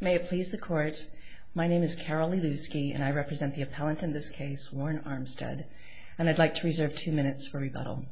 May it please the court, my name is Carol Lelewski and I represent the appellant in this case, Warren Armstead, and I'd like to reserve two minutes for rebuttal.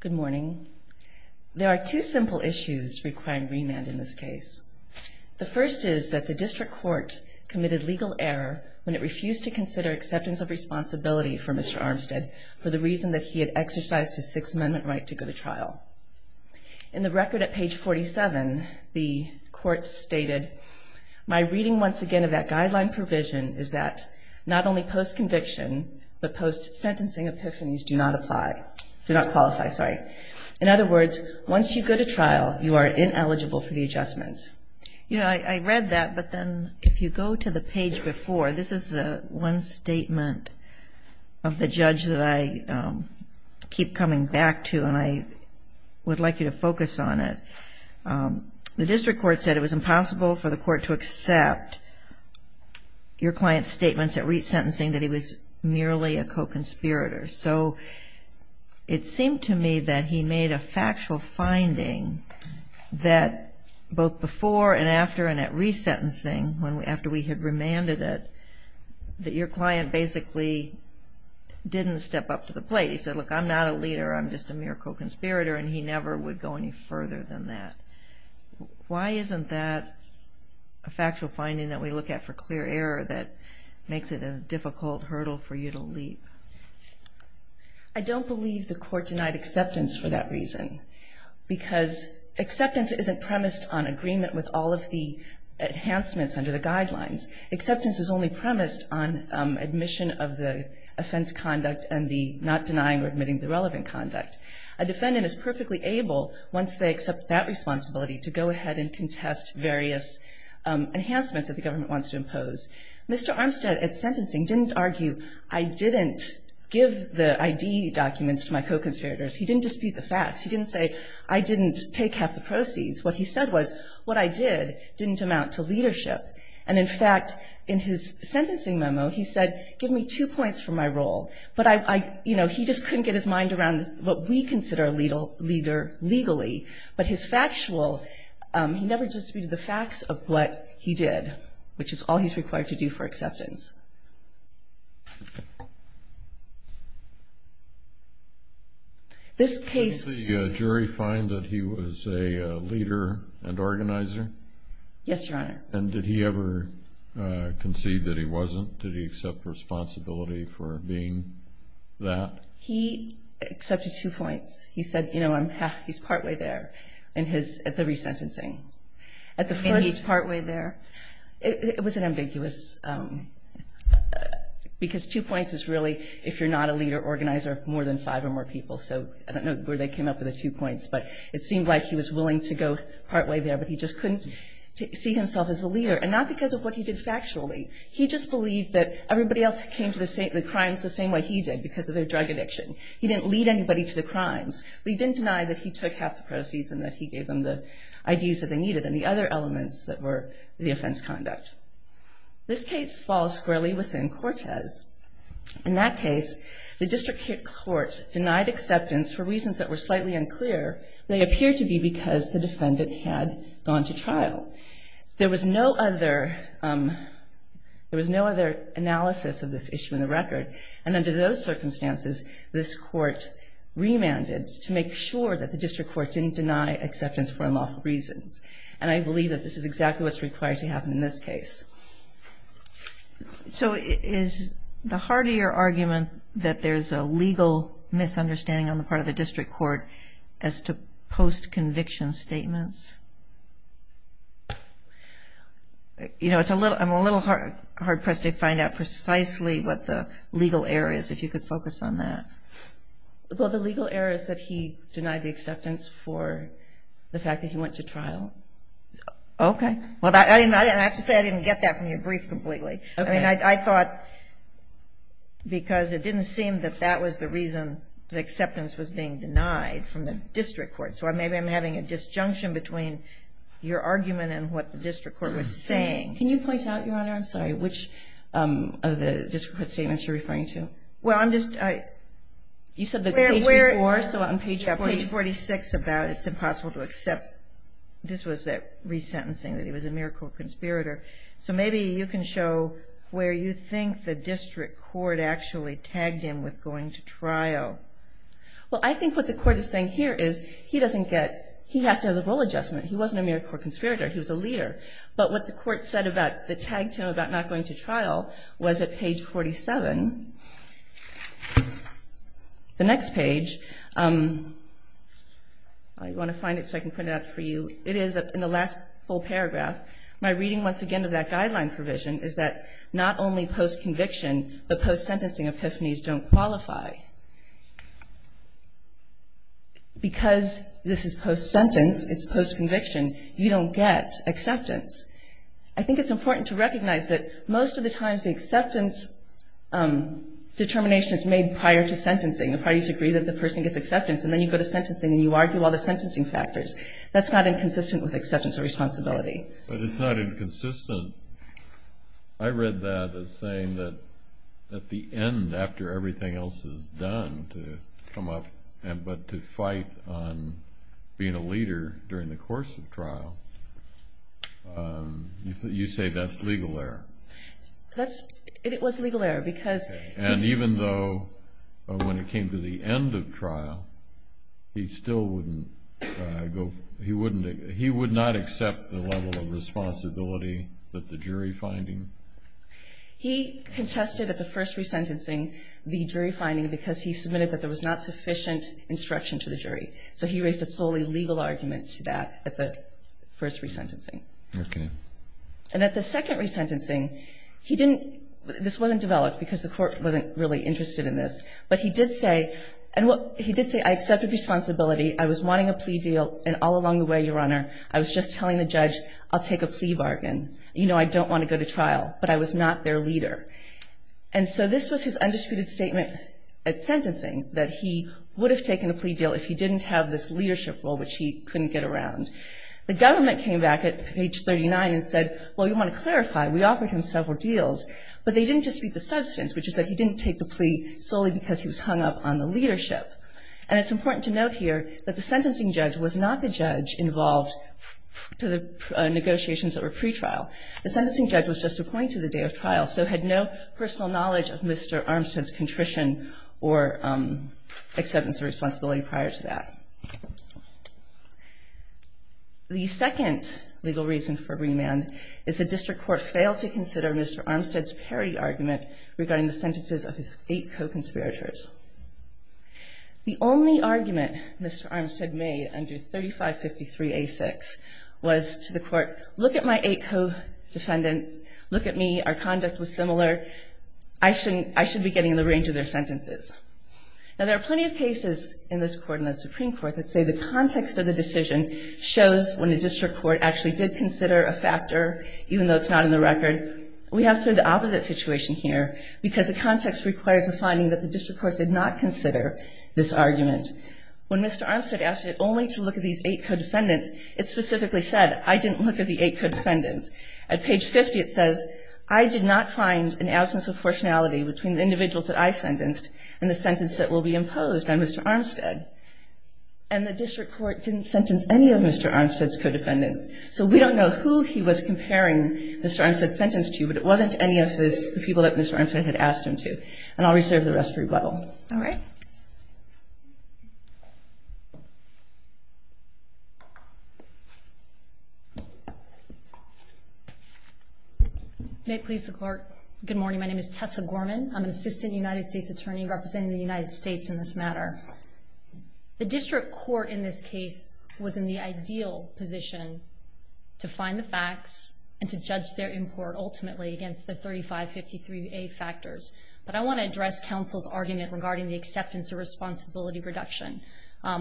Good morning. There are two simple issues requiring remand in this case. The first is that the district court committed legal error when it refused to consider acceptance of responsibility for Mr. Armstead for the reason that he had exercised his Sixth Amendment right to go to trial. In the court stated, my reading once again of that guideline provision is that not only post conviction, but post sentencing epiphanies do not apply, do not qualify, sorry. In other words, once you go to trial, you are ineligible for the adjustment. You know, I read that, but then if you go to the page before, this is the one statement of the judge that I keep coming back to and I would like you to focus on it. The district court said it was impossible for the court to accept your client's statements at resentencing that he was merely a co-conspirator. So it seemed to me that he made a factual finding that both before and after and at resentencing, after we had remanded it, that your client basically didn't step up to the plate. He said, look, I'm not a leader, I'm just a mere co-conspirator, and he never would go any further than that. Why isn't that a factual finding that we look at for clear error that makes it a difficult hurdle for you to leap? I don't believe the court denied acceptance for that reason, because acceptance isn't premised on agreement with all of the enhancements under the guidelines. Acceptance is only premised on admission of the offense conduct and not denying or admitting the relevant conduct. A defendant is perfectly able, once they accept that responsibility, to go ahead and contest various enhancements that the government wants to impose. Mr. Armstead at sentencing didn't argue, I didn't give the ID documents to my co-conspirators. He didn't dispute the facts. He didn't say, I didn't take half the proceeds. What he said was, what I did didn't amount to leadership. And in fact, in his case, he just couldn't get his mind around what we consider a leader legally. But his factual, he never disputed the facts of what he did, which is all he's required to do for acceptance. This case- Did the jury find that he was a leader and organizer? Yes, Your Honor. And did he ever concede that he wasn't? Did he accept responsibility for being that? He accepted two points. He said, you know, he's partway there in his, at the resentencing. At the first- And he's partway there? It was an ambiguous, because two points is really, if you're not a leader organizer, more than five or more people. So I don't know where they came up with the two points, but it seemed like he was willing to go partway there, but he just couldn't see himself as a leader. And not because of what he did factually. He just believed that everybody else came to the crimes the same way he did, because of their drug addiction. He didn't lead anybody to the crimes, but he didn't deny that he took half the proceeds and that he gave them the IDs that they needed and the other elements that were the offense conduct. This case falls squarely within Cortez. In that case, the district court denied acceptance for reasons that were slightly unclear. They appeared to be because the defendant had gone to trial. There was no other, there was no other analysis of this issue in the record. And under those circumstances, this court remanded to make sure that the district court didn't deny acceptance for unlawful reasons. And I believe that this is exactly what's required to happen in this case. So is the heart of your argument that there's a legal misunderstanding on the part of the district court as to post-conviction statements? You know, it's hard to find out precisely what the legal error is, if you could focus on that. Well, the legal error is that he denied the acceptance for the fact that he went to trial. Okay. Well, I have to say, I didn't get that from your brief completely. I mean, I thought, because it didn't seem that that was the reason the acceptance was being denied from the district court. So maybe I'm having a disjunction between your argument and what the district court was saying. Can you point out, Your Honor, I'm sorry, which of the district court statements you're referring to? Well, I'm just, I... You said the page before, so on page 46. Page 46 about it's impossible to accept. This was that resentencing, that he was a mere court conspirator. So maybe you can show where you think the district court actually tagged him with going to trial. Well, I think what the court is saying here is he doesn't get, he has to have the role adjustment. He wasn't a mere court conspirator. He was a leader. But what the court said about the tag to him about not going to trial was at page 47. The next page, I want to find it so I can print it out for you. It is in the last full paragraph. My reading, once again, of that guideline provision is that not only post-conviction, but post-sentencing epiphanies don't qualify. Because this is post-sentence, it's post-conviction, you don't get acceptance. I think it's important to recognize that most of the times the acceptance determination is made prior to sentencing. The parties agree that the person gets acceptance, and then you go to sentencing and you argue all the sentencing factors. That's not inconsistent with acceptance of responsibility. But it's not inconsistent. I read that as saying that at the end, after everything else is done to come up, but to fight on being a leader during the course of trial, you say that's legal error. It was legal error because... And even though when it came to the end of trial, he still wouldn't go, he wouldn't, he would not accept the level of responsibility that the jury find him? He contested at the first resentencing the jury finding because he submitted that there was not sufficient instruction to the jury. So he raised a solely legal argument to that at the first resentencing. Okay. And at the second resentencing, he didn't, this wasn't developed because the court wasn't really interested in this, but he did say, and he did say, I accepted responsibility, I was wanting a plea deal, and all along the way, Your Honor, I was just telling the judge, I'll take a plea bargain. You know I don't want to go to trial, but I was not their leader. And so this was his undisputed statement at sentencing, that he would have taken a plea deal if he didn't have this leadership role, which he couldn't get around. The government came back at page 39 and said, well, you want to clarify, we offered him several deals, but they didn't dispute the substance, which is that he didn't take the plea solely because he was hung up on the leadership. And it's important to note here that the sentencing judge was not the judge involved to the negotiations that were pre-trial. The sentencing judge was just appointed the day of trial, so had no personal knowledge of Mr. Armstead's contrition or acceptance of responsibility prior to that. The second legal reason for remand is the district court failed to consider Mr. Armstead's parity argument regarding the sentences of his eight co-conspirators. The only argument Mr. Armstead made under 3553A6 was to the court, look at my eight co-defendants, look at me, our conduct was similar, I should be getting the range of their sentences. Now, there are plenty of cases in this court and the Supreme Court that say the context of the decision shows when the district court actually did consider a factor, even though it's not in the record. We have sort of the opposite situation here, because the context requires a finding that the district court did not consider this argument. When Mr. Armstead asked it only to look at these eight co-defendants, it page 50 it says, I did not find an absence of fortunality between the individuals that I sentenced and the sentence that will be imposed on Mr. Armstead. And the district court didn't sentence any of Mr. Armstead's co-defendants. So we don't know who he was comparing Mr. Armstead's sentence to, but it wasn't any of the people that Mr. Armstead had asked him to. And I'll reserve the rest for rebuttal. All right. May it please the court. Good morning. My name is Tessa Gorman. I'm an assistant United States attorney representing the United States in this matter. The district court in this case was in the ideal position to find the facts and to judge their import ultimately against the 3553A factors. But I want to address counsel's argument regarding the acceptance of responsibility reduction.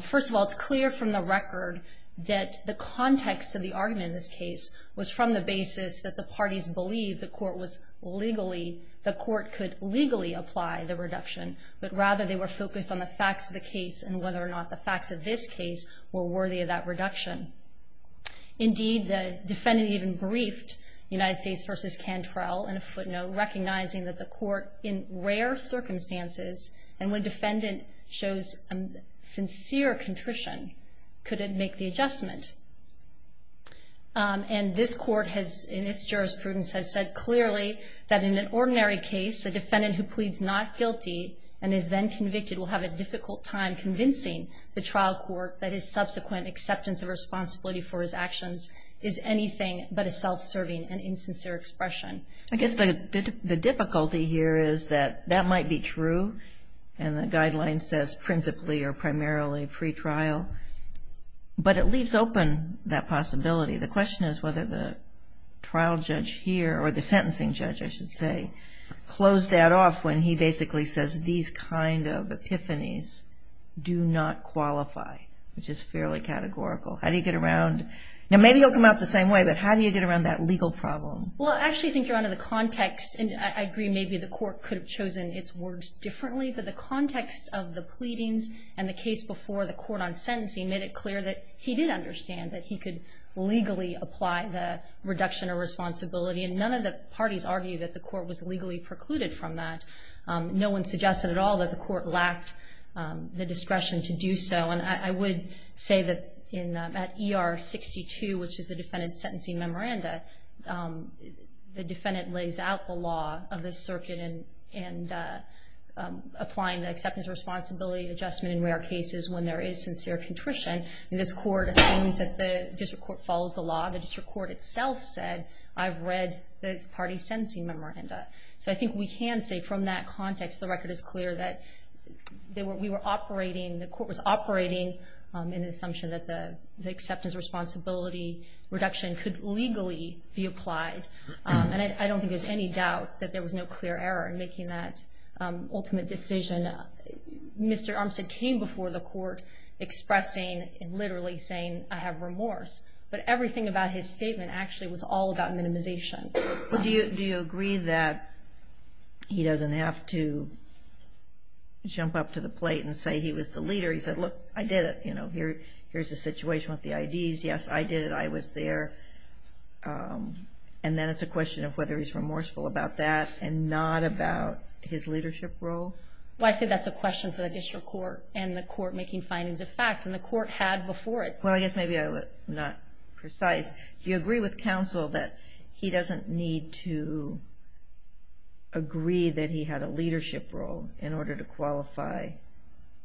First of all, it's clear from the record that the context of the argument in this case was from the basis that the parties believed the court was legally, the court could legally apply the reduction. But rather they were focused on the facts of the case and whether or not the facts of this case were worthy of that reduction. Indeed, the defendant even briefed United States versus Cantrell in a footnote recognizing that the court in rare circumstances and when a defendant shows a sincere contrition, could it make the adjustment. And this court has, in its jurisprudence, has said clearly that in an ordinary case, a defendant who pleads not guilty and is then convicted will have a difficult time convincing the trial court that his subsequent acceptance of responsibility for his actions is anything but a self-serving and insincere expression. I guess the difficulty here is that that might be true. And the guideline says principally or primarily pretrial. But it leaves open that possibility. The question is whether the trial judge here or the sentencing judge, I should say, close that off when he basically says these kind of epiphanies do not qualify, which is fairly categorical. How do you get around? Now, maybe you'll come out the same way, but how do you get around that legal problem? Well, I actually think you're under the context. And I agree maybe the court could have chosen its words differently. But the context of the pleadings and the case before the court on sentencing made it clear that he did understand that he could legally apply the reduction of responsibility. And none of the parties argued that the court was legally precluded from that. No one suggested at all that the court lacked the discretion to do so. I would say that at ER 62, which is the defendant's sentencing memoranda, the defendant lays out the law of the circuit and applying the acceptance of responsibility adjustment in rare cases when there is sincere contrition. And this court assumes that the district court follows the law. The district court itself said, I've read the party's sentencing memoranda. So I think we can say from that context, the record is clear that we were operating, the court was operating in the assumption that the acceptance responsibility reduction could legally be applied. And I don't think there's any doubt that there was no clear error in making that ultimate decision. Mr. Armstead came before the court expressing and literally saying, I have remorse. But everything about his statement actually was all about minimization. Do you agree that he doesn't have to jump up to the plate and say he was the leader? He said, look, I did it. You know, here's the situation with the IDs. Yes, I did it. I was there. And then it's a question of whether he's remorseful about that and not about his leadership role. Well, I say that's a question for the district court and the court making findings of fact. And the court had before it. Well, I guess maybe I'm not precise. Do you agree with counsel that he doesn't need to agree that he had a leadership role in order to qualify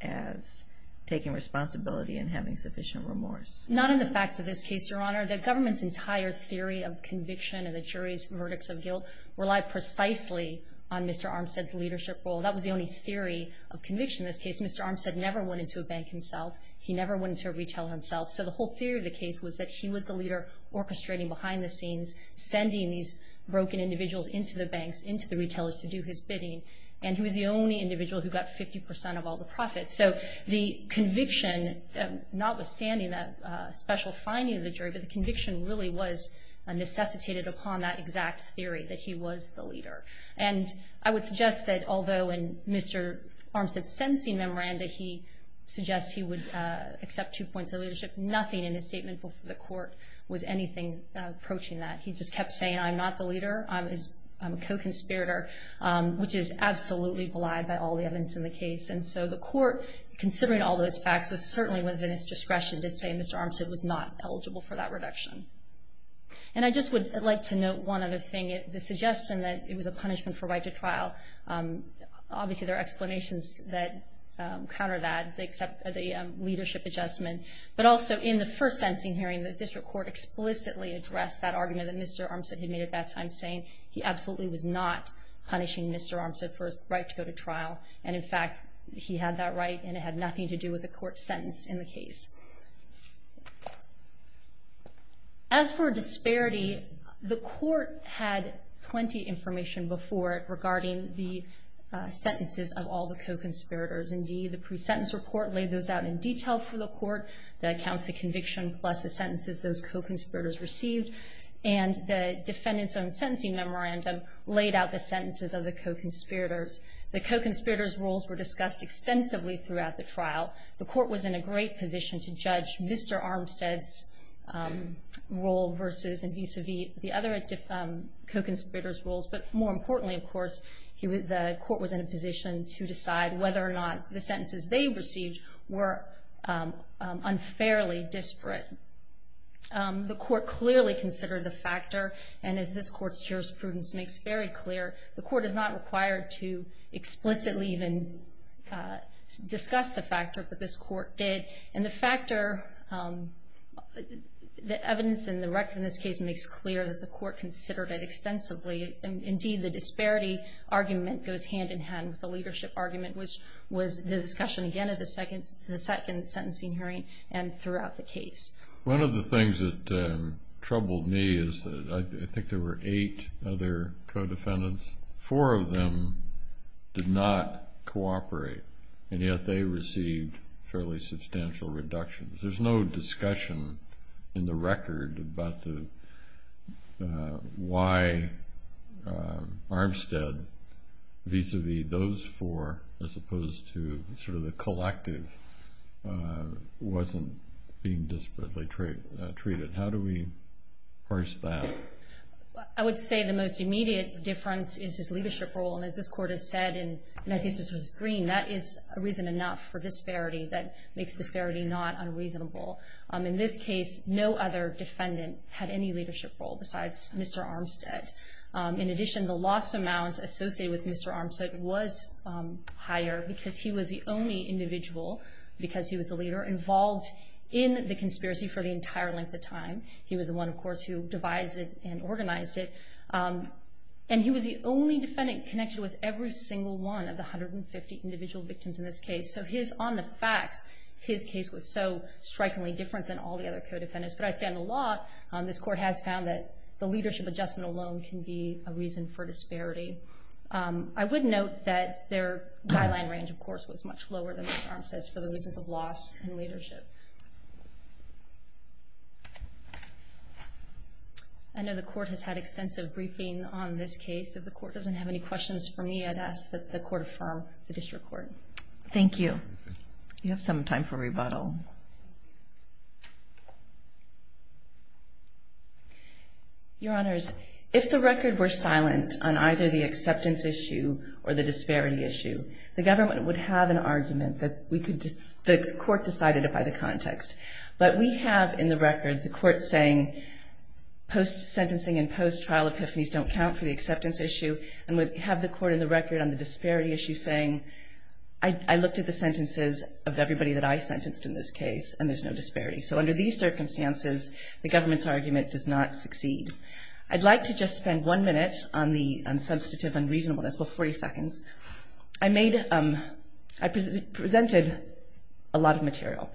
as taking responsibility and having sufficient remorse? Not in the facts of this case, Your Honor. The government's entire theory of conviction and the jury's verdicts of guilt rely precisely on Mr. Armstead's leadership role. That was the only theory of conviction in this case. Mr. Armstead never went into a bank himself. He never went into a retailer himself. So the whole theory of the case was that he was the leader orchestrating behind the scenes, sending these broken individuals into the banks, into the retailers to do his bidding. And he was the only individual who got 50% of all the profits. So the conviction, notwithstanding that special finding of the jury, but the conviction really was necessitated upon that exact theory that he was the leader. And I would suggest that although in Mr. Armstead's sentencing memoranda, he suggests he would accept two points of leadership, nothing in his statement before the court was anything approaching that. He just kept saying, I'm not the leader. I'm a co-conspirator, which is absolutely belied by all the evidence in the case. And so the court, considering all those facts, was certainly within its discretion to say Mr. Armstead was not eligible for that reduction. And I just would like to note one other thing. The suggestion that it was a punishment for right to trial, obviously there are the leadership adjustment, but also in the first sentencing hearing, the district court explicitly addressed that argument that Mr. Armstead had made at that time, saying he absolutely was not punishing Mr. Armstead for his right to go to trial. And in fact, he had that right and it had nothing to do with the court's sentence in the case. As for disparity, the court had plenty of information before it regarding the sentences of all the co-conspirators. Indeed, the pre-sentence report laid those out in detail for the court, the counts of conviction plus the sentences those co-conspirators received. And the defendant's own sentencing memorandum laid out the sentences of the co-conspirators. The co-conspirators' roles were discussed extensively throughout the trial. The court was in a great position to judge Mr. Armstead's role versus and vis-a-vis the other co-conspirators' roles. But more importantly, of course, the court was in a position to decide whether or not the sentences they received were unfairly disparate. The court clearly considered the factor, and as this court's jurisprudence makes very clear, the court is not required to explicitly even discuss the factor, but this court did. And the factor, the evidence in the record in this case makes clear that the court considered it extensively. And indeed, the disparity argument goes hand-in-hand with the leadership argument, which was the discussion, again, at the second sentencing hearing and throughout the case. One of the things that troubled me is that I think there were eight other co-defendants, four of them did not cooperate, and yet they received fairly substantial reductions. There's no discussion in the record about the, why Armstead, vis-a-vis those four, as opposed to sort of the collective, wasn't being disparately treated. How do we parse that? I would say the most immediate difference is his leadership role, and as this court has said, and I think this was green, that is a reason enough for disparity that makes disparity not unreasonable. In this case, no other defendant had any leadership role besides Mr. Armstead. In addition, the loss amount associated with Mr. Armstead was higher because he was the only individual, because he was the leader, involved in the conspiracy for the entire length of time. He was the one, of course, who devised it and organized it. And he was the only defendant connected with every single one of the 150 individual victims in this case. So his, on the facts, his case was so strikingly different than all the other co-defendants. But I'd say on the law, this court has found that the leadership adjustment alone can be a reason for disparity. I would note that their guideline range, of course, was much lower than Mr. Armstead's for the reasons of loss and leadership. I know the court has had extensive briefing on this case. If the court doesn't have any questions for me, I'd ask that the court affirm the district court. Thank you. You have some time for rebuttal. Your Honors, if the record were silent on either the acceptance issue or the disparity issue, the government would have an argument that we could, the court decided it by the context. But we have in the record the court saying post-sentencing and post-trial epiphanies don't count for the acceptance issue. And would have the court in the record on the disparity issue saying, I looked at the sentences of everybody that I sentenced in this case, and there's no disparity. So under these circumstances, the government's argument does not succeed. I'd like to just spend one minute on the substantive unreasonableness, well 40 seconds. I made, I presented a lot of material.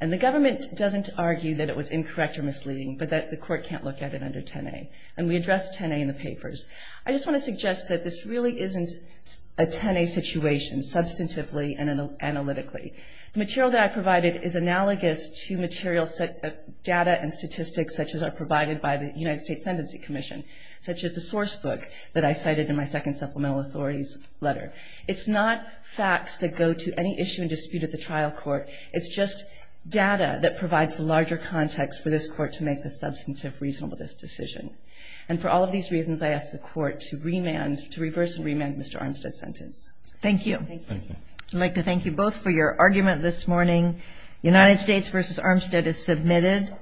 And the government doesn't argue that it was incorrect or misleading, but that the court can't look at it under 10A. And we addressed 10A in the papers. I just want to suggest that this really isn't a 10A situation, substantively and analytically. The material that I provided is analogous to material set of data and statistics such as are provided by the United States Sentencing Commission. Such as the source book that I cited in my second supplemental authorities letter. It's not facts that go to any issue and dispute at the trial court. It's just data that provides larger context for this court to make the substantive reasonableness decision. And for all of these reasons, I ask the court to reverse and remand Mr. Armstead's sentence. Thank you. I'd like to thank you both for your argument this morning. United States versus Armstead is submitted.